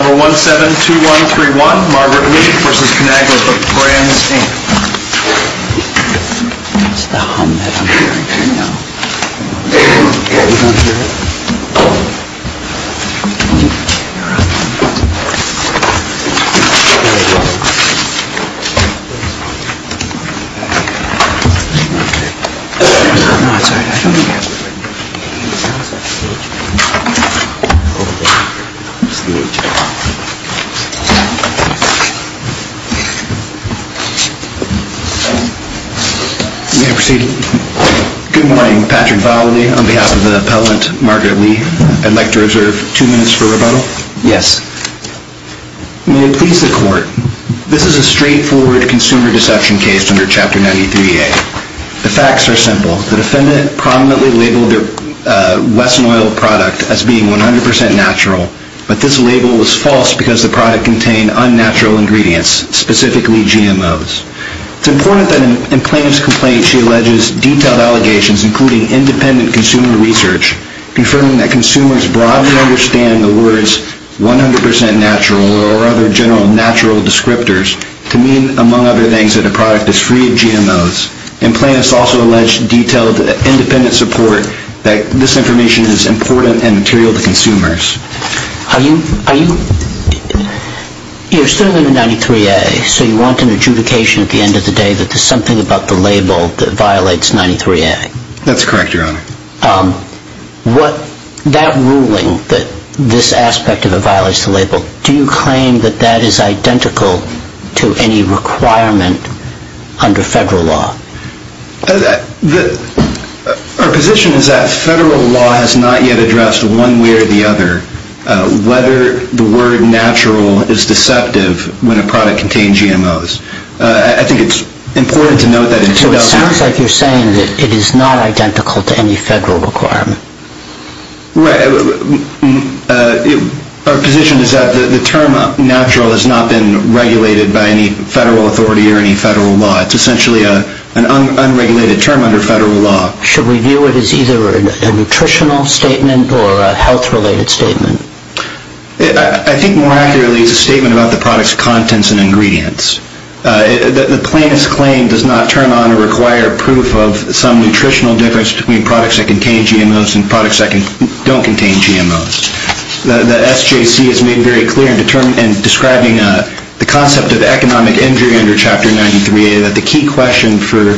Number 172131 Margaret Lee v. Conagra Brands, Inc. May I proceed? Good morning. Patrick Volody on behalf of the appellant Margaret Lee. I'd like to reserve two minutes for rebuttal. Yes. May it please the court, this is a straightforward consumer deception case under Chapter 93A. The facts are simple. The defendant prominently labeled their Wesson oil product as being 100% natural, but this label was false because the product contained unnatural ingredients, specifically GMOs. It's important that in plaintiff's complaint she alleges detailed allegations, including independent consumer research, confirming that consumers broadly understand the words 100% natural or other general natural descriptors to mean, among other things, that a product is free of GMOs. And plaintiff's also alleged detailed independent support that this information is important and material to consumers. Are you, are you, you're still under 93A, so you want an adjudication at the end of the day that there's something about the label that violates 93A? That's correct, Your Honor. What, that ruling that this aspect of it violates the label, do you Our position is that federal law has not yet addressed one way or the other whether the word natural is deceptive when a product contains GMOs. I think it's important to note that in 2009. So it sounds like you're saying that it is not identical to any federal requirement. Right. Our position is that the term natural has not been regulated by any federal authority or any federal law. It's essentially an unregulated term under federal law. Should we view it as either a nutritional statement or a health-related statement? I think more accurately it's a statement about the product's contents and ingredients. The plaintiff's claim does not turn on or require proof of some nutritional difference between products that contain GMOs and products that don't contain GMOs. The SJC has made very clear in describing the concept of economic injury under Chapter 93A that the key question for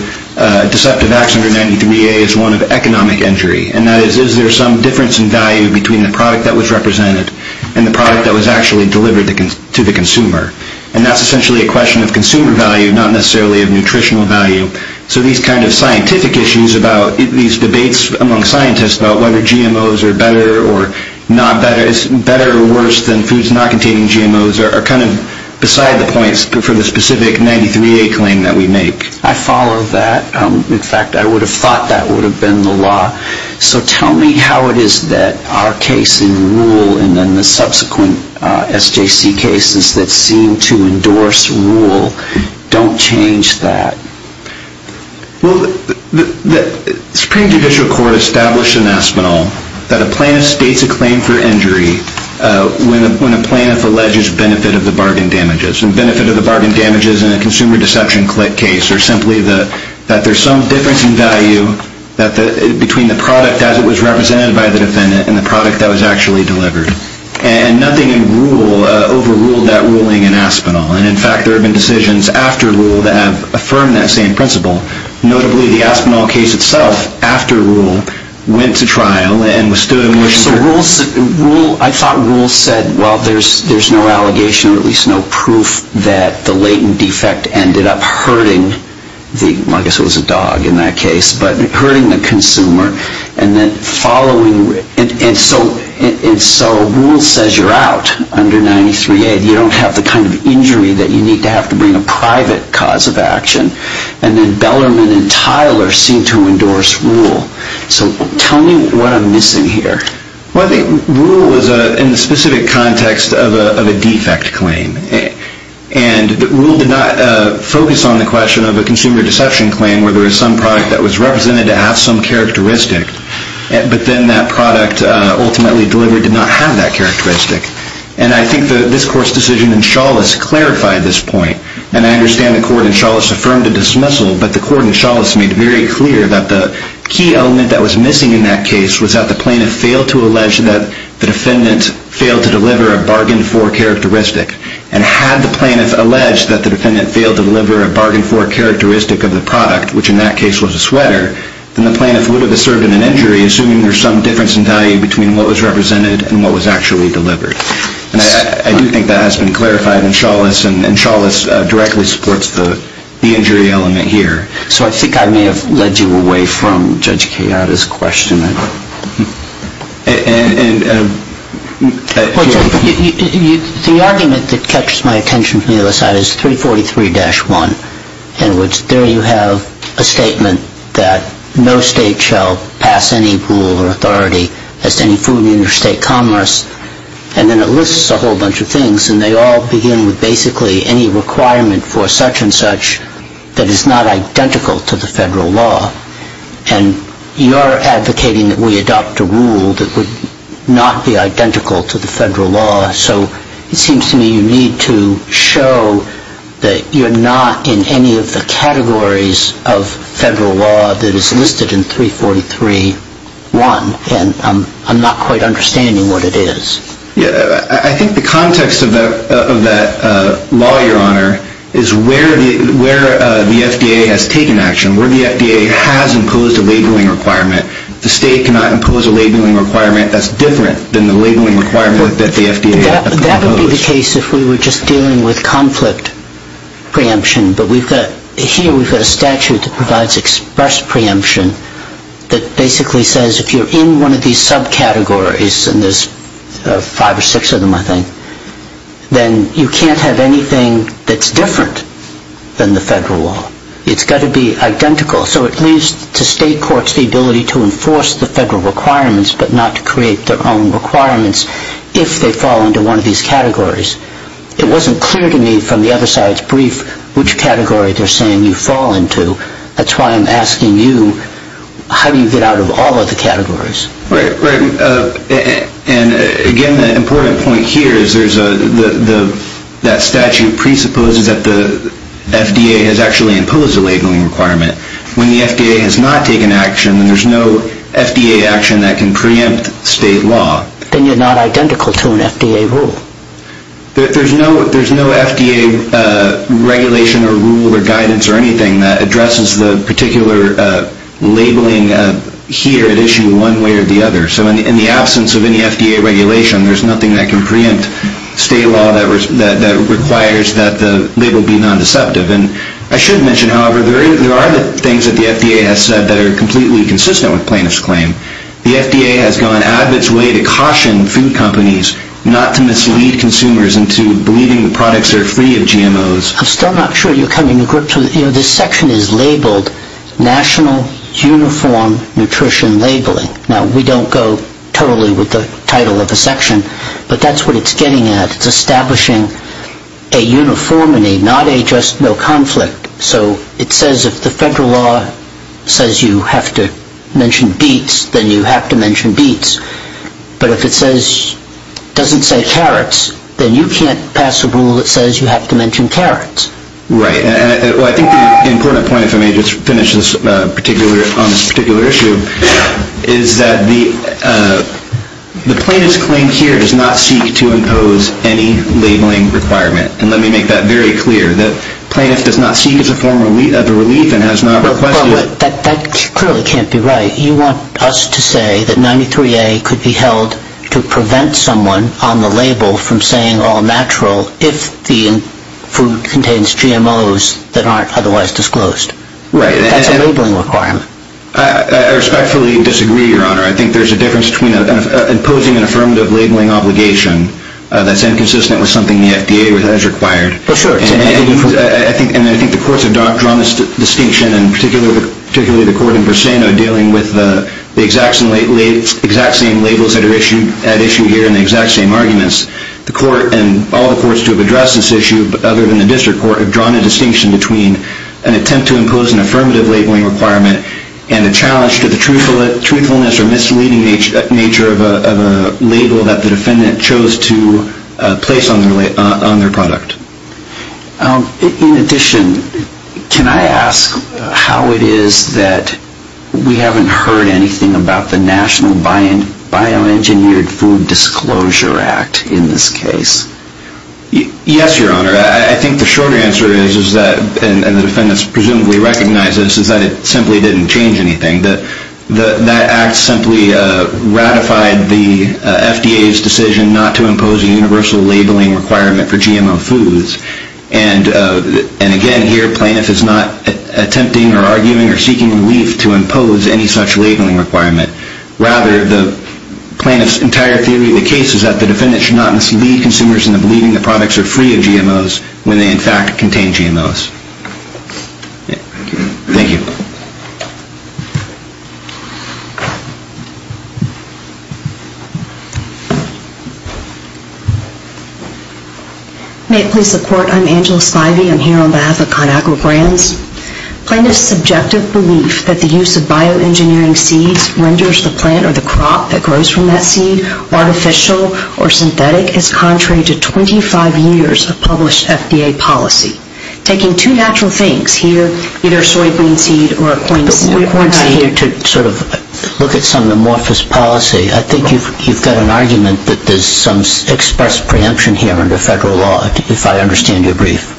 deceptive acts under 93A is one of economic injury. And that is, is there some difference in value between the product that was represented and the product that was actually delivered to the consumer? And that's essentially a question of consumer value, not necessarily of nutritional value. So these kind of scientific issues about these debates among scientists about whether GMOs are better or not better, better or worse than foods not containing GMOs are kind of beside the points for the specific 93A claim that we make. I follow that. In fact, I would have thought that would have been the law. So tell me how it is that our case in rule and then the subsequent SJC cases that seem to endorse rule don't change that? Well, the Supreme Judicial Court established in Aspinall that a plaintiff states a claim for injury when a plaintiff alleges benefit of the bargain damages. And benefit of the bargain damages in a consumer deception case are simply that there's some difference in value between the product as it was represented by the defendant and the product that was actually delivered. And nothing in rule overruled that ruling in Aspinall. And in fact, there have affirmed that same principle. Notably, the Aspinall case itself, after rule, went to trial and withstood more injury. I thought rule said, well, there's no allegation or at least no proof that the latent defect ended up hurting the, I guess it was a dog in that case, but hurting the consumer. And then following, and so rule says you're out under 93A. You don't have the kind of injury that you need to have to bring a private cause of action. And then Bellarmine and Tyler seem to endorse rule. So tell me what I'm missing here. Well, I think rule was in the specific context of a defect claim. And rule did not focus on the question of a consumer deception claim where there was some product that was represented to have some characteristic. But then that product ultimately delivered did not have that characteristic. And I think this court's decision in Shawless clarified this point. And I understand the court in Shawless affirmed a dismissal, but the court in Shawless made very clear that the key element that was missing in that case was that the plaintiff failed to allege that the defendant failed to deliver a bargain for characteristic. And had the plaintiff alleged that the defendant failed to deliver a bargain for characteristic of the product, which in that case was a sweater, then the plaintiff would have served in an injury, assuming there's some difference in value between what was represented and what was actually delivered. And I do think that has been clarified in Shawless. And Shawless directly supports the injury element here. So I think I may have led you away from Judge Kayada's question. The argument that catches my attention from the other side is 343-1, in which there you have a statement that no state shall pass any rule or authority as to any food and interstate commerce. And then it lists a whole bunch of things, and they all begin with basically any requirement for such and such that is not identical to the federal law. And you are advocating that we adopt a rule that would not be identical to the federal law. So it seems to me you need to show that you're not in any of the categories of federal law that I'm not quite understanding what it is. I think the context of that law, Your Honor, is where the FDA has taken action, where the FDA has imposed a labeling requirement. The state cannot impose a labeling requirement that's different than the labeling requirement that the FDA has imposed. That would be the case if we were just dealing with conflict preemption. But here we've got a statute that provides express preemption that basically says if you're in one of these subcategories, and there's five or six of them, I think, then you can't have anything that's different than the federal law. It's got to be identical. So it leaves to state courts the ability to enforce the federal requirements, but not to create their own requirements if they fall into one of these categories. It wasn't clear to me from the other side's brief which category they're saying you fall into. That's why I'm asking you, how do you get out of all of the categories? Right. And again, the important point here is that statute presupposes that the FDA has actually imposed a labeling requirement. When the FDA has not taken action, then there's no FDA action that can preempt state law. Then you're not identical to an FDA rule. There's no FDA regulation or rule or guidance or anything that addresses the particular labeling here at issue one way or the other. So in the absence of any FDA regulation, there's nothing that can preempt state law that requires that the label be non-deceptive. And I should mention, however, there are things that the FDA has said that are completely consistent with plaintiff's claim. The FDA has gone out of its way to caution food companies not to mislead consumers into believing the products are free of GMOs. I'm still not sure you're coming to grips with, you know, this section is labeled National Uniform Nutrition Labeling. Now, we don't go totally with the title of the section, but that's what it's getting at. It's establishing a uniformity, not a just no conflict. So it says if the federal law says you have to mention beets, then you have to mention beets. But if it says, doesn't say carrots, then you can't pass a rule that says you have to mention carrots. Right. Well, I think the important point, if I may just finish on this particular issue, is that the plaintiff's claim here does not seek to impose any labeling requirement. And let me make that very clear, that plaintiff does not seek as a form of relief and has not requested it. Well, that clearly can't be right. You want us to say that 93A could be held to prevent someone on the label from saying they're all natural if the food contains GMOs that aren't otherwise disclosed. Right. That's a labeling requirement. I respectfully disagree, Your Honor. I think there's a difference between imposing an affirmative labeling obligation that's inconsistent with something the FDA has required. Well, sure. And I think the courts have drawn this distinction, and particularly the court in Braceno dealing with the exact same labels that are at issue here and the exact same arguments. The court and all the courts who have addressed this issue other than the district court have drawn a distinction between an attempt to impose an affirmative labeling requirement and a challenge to the truthfulness or misleading nature of a label that the defendant chose to place on their product. In addition, can I ask how it is that we haven't heard anything about the National Bioengineered Food Disclosure Act in this case? Yes, Your Honor. I think the short answer is that, and the defendants presumably recognize this, is that it simply didn't change anything. That act simply ratified the FDA's decision not to impose a universal labeling requirement for GMO foods. And again here, plaintiff is not attempting or arguing or seeking relief to impose any such labeling requirement. Rather, the plaintiff's entire theory of the case is that the defendant should not mislead consumers into believing that products are free of GMOs when they in fact contain GMOs. Thank you. May it please the Court, I'm Angela Spivey. I'm here on behalf of ConAqua Brands. Plaintiff's subjective belief that the use of bioengineering seeds renders the plant or the crop that grows from that seed artificial or synthetic is contrary to 25 years of published FDA policy. Taking two natural things here, either a soybean seed or a corn seed. But we're not here to sort of look at some amorphous policy. I think you've got an argument that there's some express preemption here under federal law, if I understand your brief.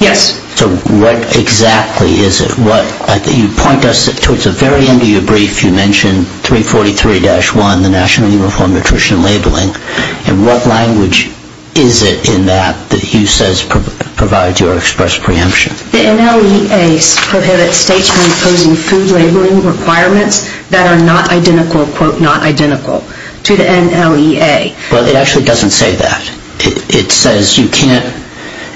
Yes. So what exactly is it? You point us towards the very end of your brief. You mentioned 343-1, the National Uniform Nutrition Labeling. In what language is it in that that you say provides your express preemption? The NLEA prohibits states from imposing food labeling requirements that are not identical, quote, not identical to the NLEA. Well, it actually doesn't say that. It says you can't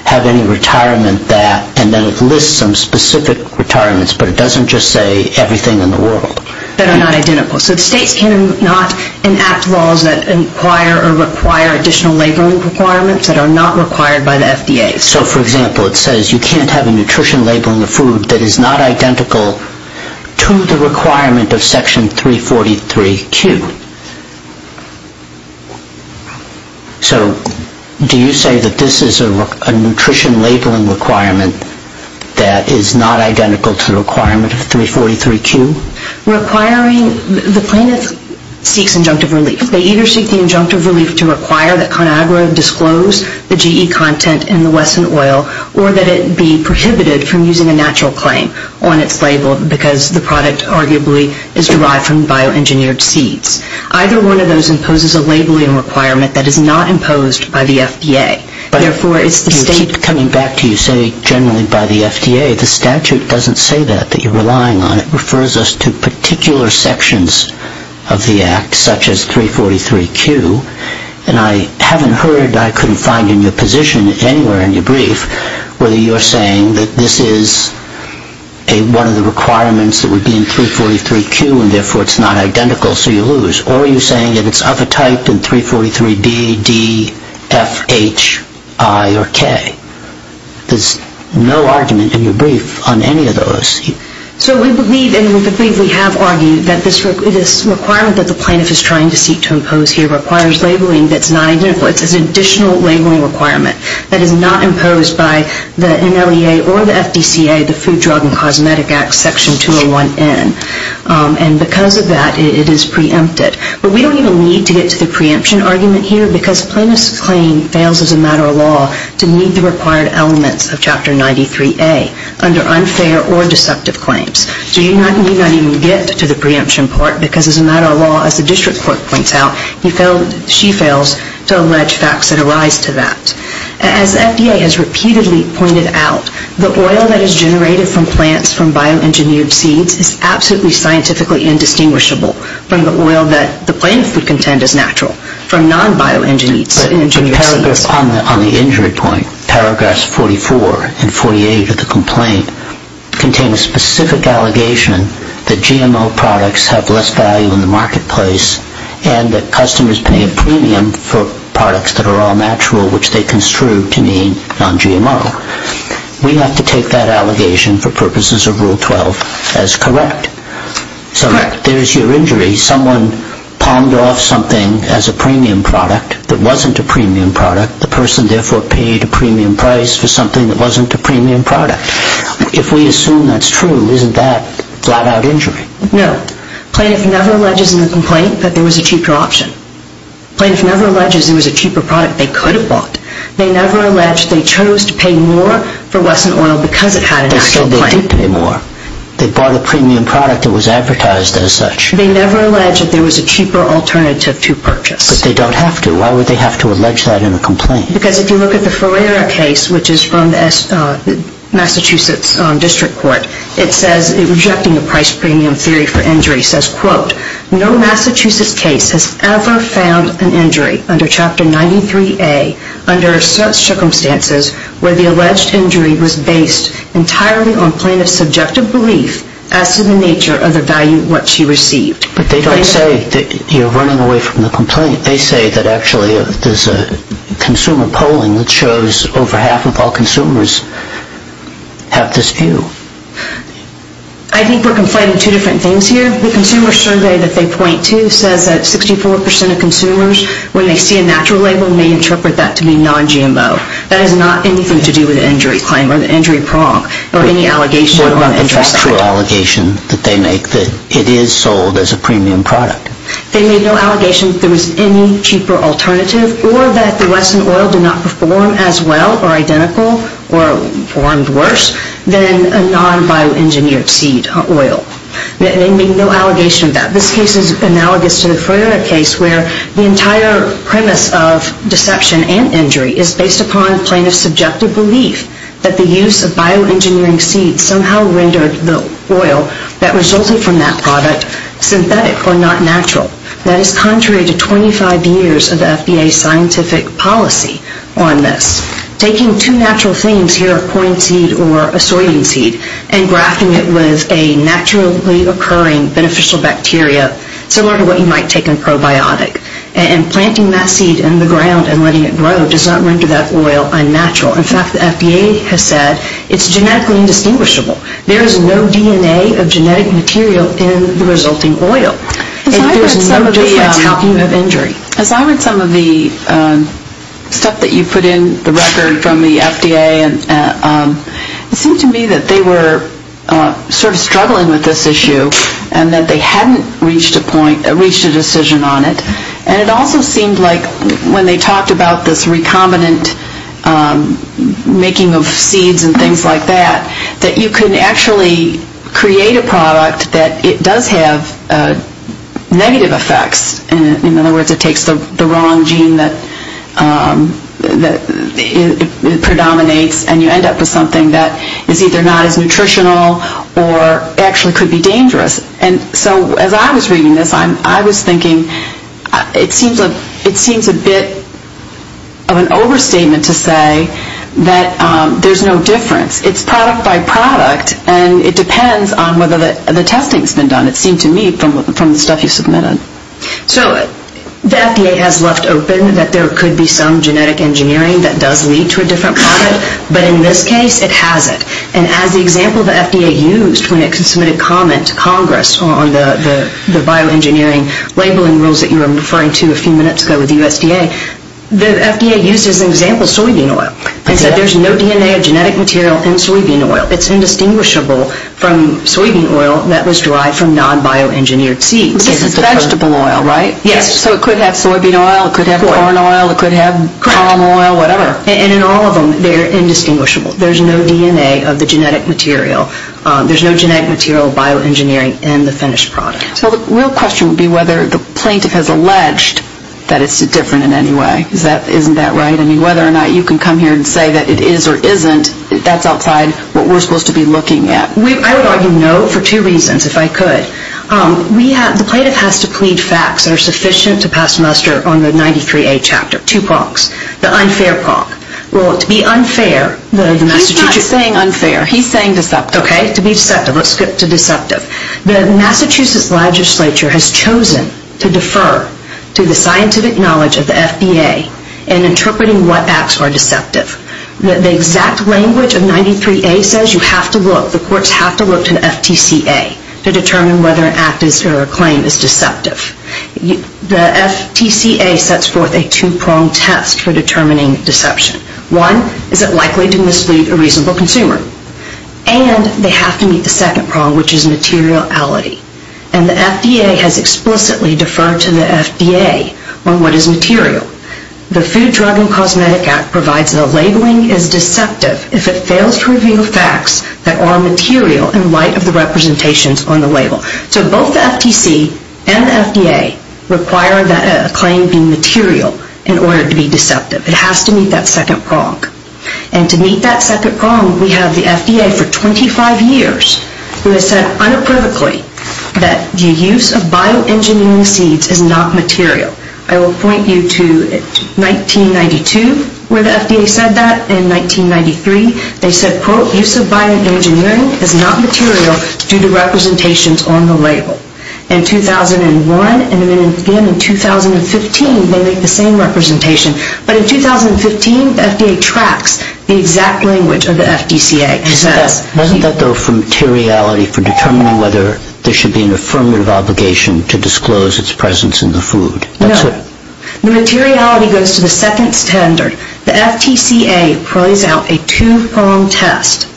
have any retirement that, and then it lists some specific retirements, but it doesn't just say everything in the world. That are not identical. So states cannot enact laws that require or require additional labeling requirements that are not required by the FDA. So, for example, it says you can't have a nutrition labeling of food that is not identical to the requirement of Section 343-Q. So do you say that this is a nutrition labeling requirement that is not identical to the requirement of 343-Q? Requiring, the plaintiff seeks injunctive relief. They either seek the injunctive relief to require that ConAgra disclose the GE content in the Wesson oil, or that it be prohibited from using a natural claim on its label because the product arguably is derived from bioengineered seeds. Either one of those imposes a labeling requirement that is not imposed by the FDA. Therefore, it's the state... Coming back to you saying generally by the FDA, the statute doesn't say that, that you're relying on. It refers us to particular sections of the Act, such as 343-Q. And I haven't heard, I couldn't find in your position anywhere in your brief, whether you're saying that this is a, one of the requirements that would be in 343-Q, and therefore it's not identical, so you lose. Or are you saying that it's other type than 343-B, D, F, H, I, or K? There's no argument in your brief on any of those. So we believe, and in the brief we have argued, that this requirement that the plaintiff is trying to seek to impose here requires labeling that's not identical. It's an additional labeling requirement that is not imposed by the NLEA or the FDCA, the Food, Drug, and Cosmetic Act, Section 201N. And because of that, it is preempted. But we don't even need to get to the preemption argument here, because plaintiff's claim fails as a matter of law to meet the required elements of Chapter 93A under unfair or deceptive claims. So you not, you not even get to the preemption part, because as a matter of law, as the district court points out, you failed, she fails to allege facts that arise to that. As FDA has repeatedly pointed out, the oil that is generated from plants from bioengineered seeds is absolutely scientifically indistinguishable from the oil that the plaintiff would contend is natural, from non-bioengineered seeds. But in paragraph, on the injury point, paragraphs 44 and 48 of the complaint contain a specific allegation that GMO products have less value in the marketplace and that customers pay a premium for products that are all natural, which they construe to mean non-GMO. We have to take that allegation for purposes of Rule 12 as correct. So there's your injury. Someone pawned off something as a premium product that wasn't a premium product. The person therefore paid a premium price for something that wasn't a premium product. If we assume that's true, isn't that flat-out injury? No. Plaintiff never alleges in the complaint that there was a cheaper option. Plaintiff never alleges there was a cheaper product they could have bought. They never allege they chose to pay more for Wesson Oil because it had a natural plant. They said they did pay more. They bought a premium product that was advertised as such. They never allege that there was a cheaper alternative to purchase. But they don't have to. Why would they have to allege that in a complaint? Because if you look at the Ferreira case, which is from Massachusetts District Court, it says, rejecting the price premium theory for injury, says, No Massachusetts case has ever found an injury under Chapter 93A under such circumstances where the alleged injury was based entirely on plaintiff's subjective belief as to the nature of the value of what she received. But they don't say that you're running away from the complaint. They say that actually there's a consumer polling that shows over half of all consumers have this view. I think we're complaining two different things here. The consumer survey that they point to says that 64% of consumers, when they see a natural label, may interpret that to be non-GMO. That has not anything to do with the injury claim or the injury prompt or any allegation on the injury side. What about the factual allegation that they make that it is sold as a premium product? They made no allegation that there was any cheaper alternative or that the Wesson Oil did not perform as well or identical or performed worse than a non-bioengineered seed oil. They made no allegation of that. This case is analogous to the Freire case where the entire premise of deception and injury is based upon plaintiff's subjective belief that the use of bioengineering seeds somehow rendered the oil that resulted from that product synthetic or not natural. That is contrary to 25 years of the FBA scientific policy on this. Taking two natural things here, a corn seed or a soybean seed, and grafting it with a naturally occurring beneficial bacteria, similar to what you might take in probiotic, and planting that seed in the ground and letting it grow does not render that oil unnatural. In fact, the FBA has said it is genetically indistinguishable. There is no DNA of genetic material in the resulting oil. There is no difference how people have injury. As I read some of the stuff that you put in the record from the FDA, it seemed to me that they were sort of struggling with this issue and that they hadn't reached a point, reached a decision on it. And it also seemed like when they talked about this recombinant making of seeds and things like that, that you can actually create a product that it does have negative effects. In other words, it takes the wrong gene that predominates and you end up with something that is either not as nutritional or actually could be dangerous. And so as I was reading this, I was thinking it seems a bit of an overstatement to say that there is no difference. It is product by product and it depends on whether the testing has been done. And it seemed to me from the stuff you submitted. So the FDA has left open that there could be some genetic engineering that does lead to a different product. But in this case, it has it. And as the example the FDA used when it submitted a comment to Congress on the bioengineering labeling rules that you were referring to a few minutes ago with USDA, the FDA used as an example soybean oil. It said there is no DNA of genetic material in soybean oil. It is indistinguishable from soybean oil that was derived from non-bioengineered seeds. This is vegetable oil, right? Yes. So it could have soybean oil, it could have corn oil, it could have palm oil, whatever. And in all of them, they are indistinguishable. There is no DNA of the genetic material. There is no genetic material bioengineering in the finished product. So the real question would be whether the plaintiff has alleged that it is different in any way. Isn't that right? I mean, whether or not you can come here and say that it is or isn't, that is outside what we are supposed to be looking at. I would argue no for two reasons, if I could. The plaintiff has to plead facts that are sufficient to pass a muster on the 93A chapter. Two prongs. The unfair prong. Well, to be unfair, the Massachusetts... He is not saying unfair. He is saying deceptive. Okay. To be deceptive. Let's skip to deceptive. The Massachusetts legislature has chosen to defer to the scientific knowledge of the FDA in interpreting what acts are deceptive. The exact language of 93A says you have to look, the courts have to look to the FTCA to determine whether an act or a claim is deceptive. The FTCA sets forth a two-prong test for determining deception. One, is it likely to mislead a reasonable consumer? And they have to meet the second prong, which is materiality. And the FDA has explicitly deferred to the FDA on what is material. The Food, Drug, and Cosmetic Act provides that labeling is deceptive if it fails to reveal facts that are material in light of the representations on the label. So both the FTC and the FDA require that a claim be material in order to be deceptive. It has to meet that second prong. And to meet that second prong, we have the FDA for 25 years who has said unapologetically that the use of bioengineering seeds is not material. I will point you to 1992 where the FDA said that. In 1993, they said, quote, use of bioengineering is not material due to representations on the label. In 2001, and then again in 2015, they make the same representation. But in 2015, the FDA tracks the exact language of the FTCA. Isn't that though for materiality, for determining whether there should be an affirmative obligation to disclose its presence in the food? No. The materiality goes to the second standard. The FTCA plays out a two-prong test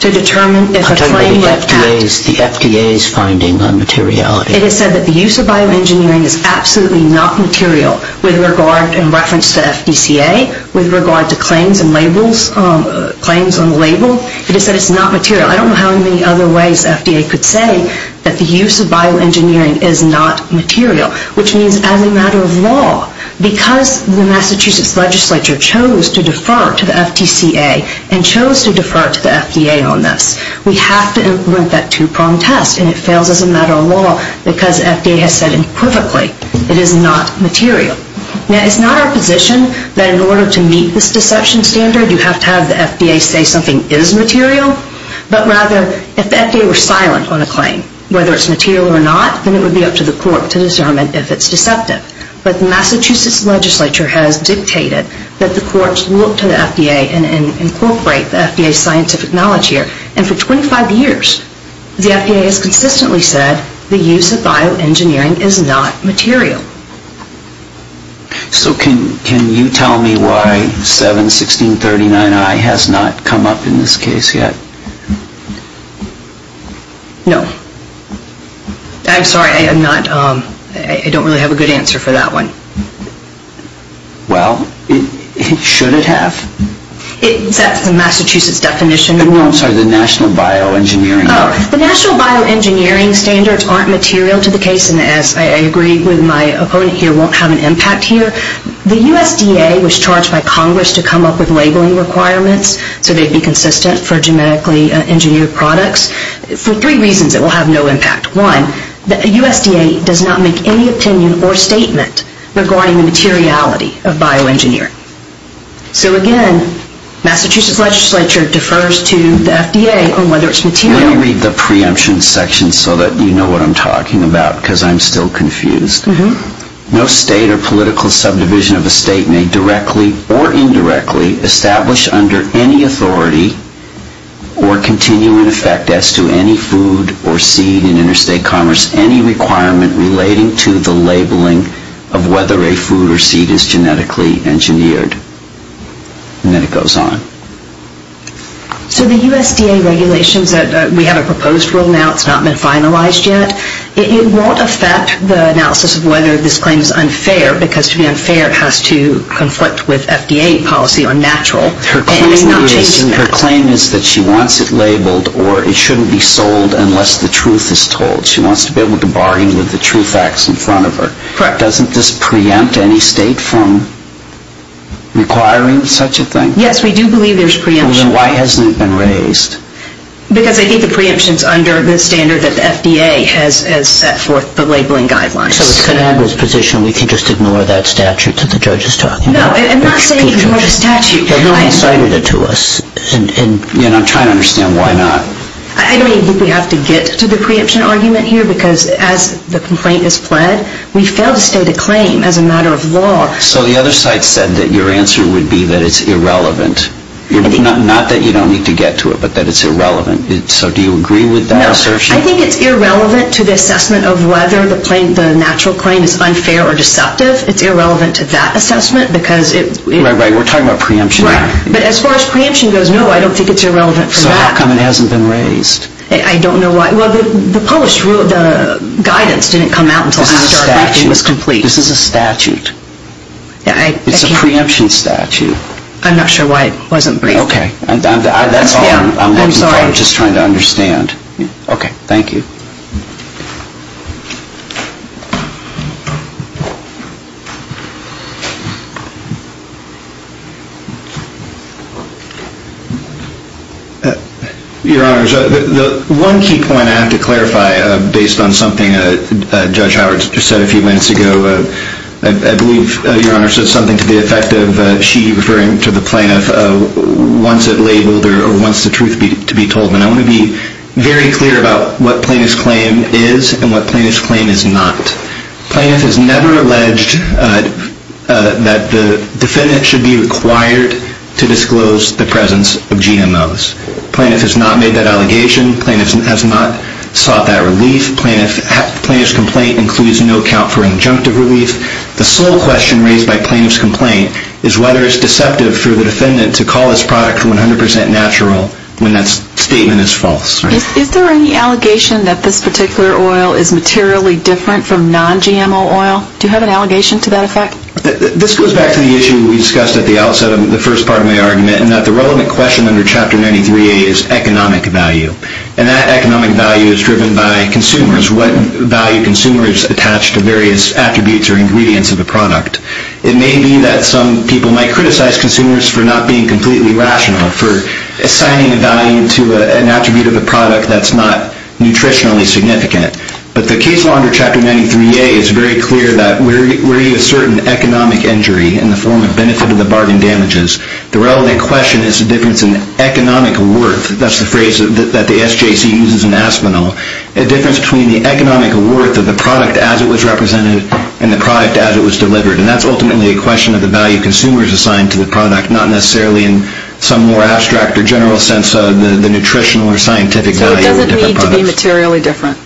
to determine if a claim left out. I'm talking about the FDA's finding on materiality. It has said that the use of bioengineering is absolutely not material with regard in reference to FTCA, with regard to claims and labels, claims on the label. It has said it's not material. I don't know how many other ways FDA could say that the use of bioengineering is not material, which means as a matter of law, because the Massachusetts legislature chose to defer to the FTCA and chose to defer to the FDA on this, we have to implement that two-prong test. And it fails as a matter of law because FDA has said equivocally it is not material. Now, it's not our position that in order to meet this deception standard, you have to have the FDA say something is material. But rather, if the FDA were silent on a claim, whether it's material or not, then it would be up to the court to determine if it's deceptive. But the Massachusetts legislature has dictated that the courts look to the FDA and incorporate the FDA's scientific knowledge here. And for 25 years, the FDA has consistently said the use of bioengineering is not material. So can you tell me why 71639I has not come up in this case yet? No. I'm sorry, I don't really have a good answer for that one. Well, should it have? That's the Massachusetts definition. No, I'm sorry, the National Bioengineering. The National Bioengineering standards aren't material to the case, and as I agree with my opponent here, won't have an impact here. The USDA was charged by Congress to come up with labeling requirements so they'd be consistent for genetically engineered products. For three reasons it will have no impact. One, the USDA does not make any opinion or statement regarding the materiality of bioengineering. So again, Massachusetts legislature defers to the FDA on whether it's material. Let me read the preemption section so that you know what I'm talking about, because I'm still confused. No state or political subdivision of a state may directly or indirectly establish under any authority or continue in effect as to any food or seed in interstate commerce any requirement relating to the labeling of whether a food or seed is genetically engineered. And then it goes on. So the USDA regulations that we have a proposed rule now, it's not been finalized yet, it won't affect the analysis of whether this claim is unfair, because to be unfair it has to conflict with FDA policy on natural. Her claim is that she wants it labeled or it shouldn't be sold unless the truth is told. She wants to be able to bargain with the truth facts in front of her. Correct. Doesn't this preempt any state from requiring such a thing? Yes, we do believe there's preemption. Then why hasn't it been raised? Because I think the preemption is under the standard that the FDA has set forth the labeling guidelines. So it's connable's position we can just ignore that statute that the judge is talking about? No, I'm not saying ignore the statute. But nobody cited it to us, and I'm trying to understand why not. I don't even think we have to get to the preemption argument here, because as the complaint is pled, we fail to state a claim as a matter of law. So the other side said that your answer would be that it's irrelevant. Not that you don't need to get to it, but that it's irrelevant. So do you agree with that assertion? No, I think it's irrelevant to the assessment of whether the natural claim is unfair or deceptive. It's irrelevant to that assessment, because it... Right, right, we're talking about preemption here. Right, but as far as preemption goes, no, I don't think it's irrelevant for that. So how come it hasn't been raised? I don't know why. Well, the published rule, the guidance didn't come out until after the fact. This is a statute. It's a preemption statute. I'm not sure why it wasn't raised. Okay, that's all I'm looking for. I'm sorry. I'm just trying to understand. Okay, thank you. Your Honor, the one key point I have to clarify, based on something Judge Howard said a few minutes ago, I believe Your Honor said something to the effect of she referring to the plaintiff wants it labeled or wants the truth to be told. And I want to be very clear about what plaintiff's claim is and what plaintiff's claim is not. Plaintiff has never alleged that the defendant should be required to disclose the presence of GMOs. Plaintiff has not made that allegation. Plaintiff has not sought that relief. Plaintiff's complaint includes no account for injunctive relief. The sole question raised by plaintiff's complaint is whether it's deceptive for the defendant to call this product 100% natural when that statement is false. Is there any allegation that this particular oil is materially different from non-GMO oil? Do you have an allegation to that effect? This goes back to the issue we discussed at the outset of the first part of my argument in that the relevant question under Chapter 93A is economic value. And that economic value is driven by consumers, what value consumers attach to various attributes or ingredients of a product. It may be that some people might criticize consumers for not being completely rational, for assigning a value to an attribute of a product that's not nutritionally significant. But the case law under Chapter 93A is very clear that where you assert an economic injury in the form of benefit of the bargain damages, the relevant question is the difference in economic worth. That's the phrase that the SJC uses in Aspinall. A difference between the economic worth of the product as it was represented and the product as it was delivered. And that's ultimately a question of the value consumers assign to the product, not necessarily in some more abstract or general sense of the nutritional or scientific value of a different product. So it doesn't need to be materially different?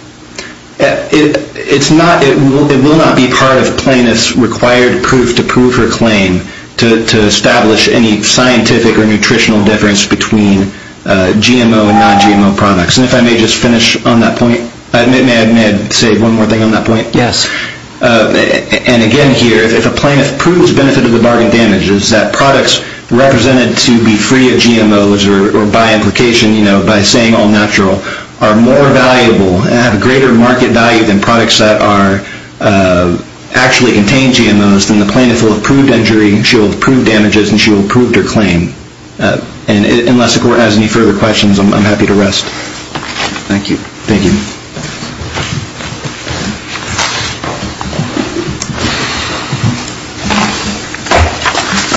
It will not be part of plaintiff's required proof to prove her claim to establish any scientific or nutritional difference between GMO and non-GMO products. And if I may just finish on that point. May I say one more thing on that point? Yes. And again here, if a plaintiff proves benefit of the bargain damages that products represented to be free of GMOs or by implication, by saying all natural, are more valuable and have a greater market value than products that actually contain GMOs, then the plaintiff will have proved injury, she'll have proved damages, and she'll have proved her claim. And unless the Court has any further questions, I'm happy to rest. Thank you. Thank you.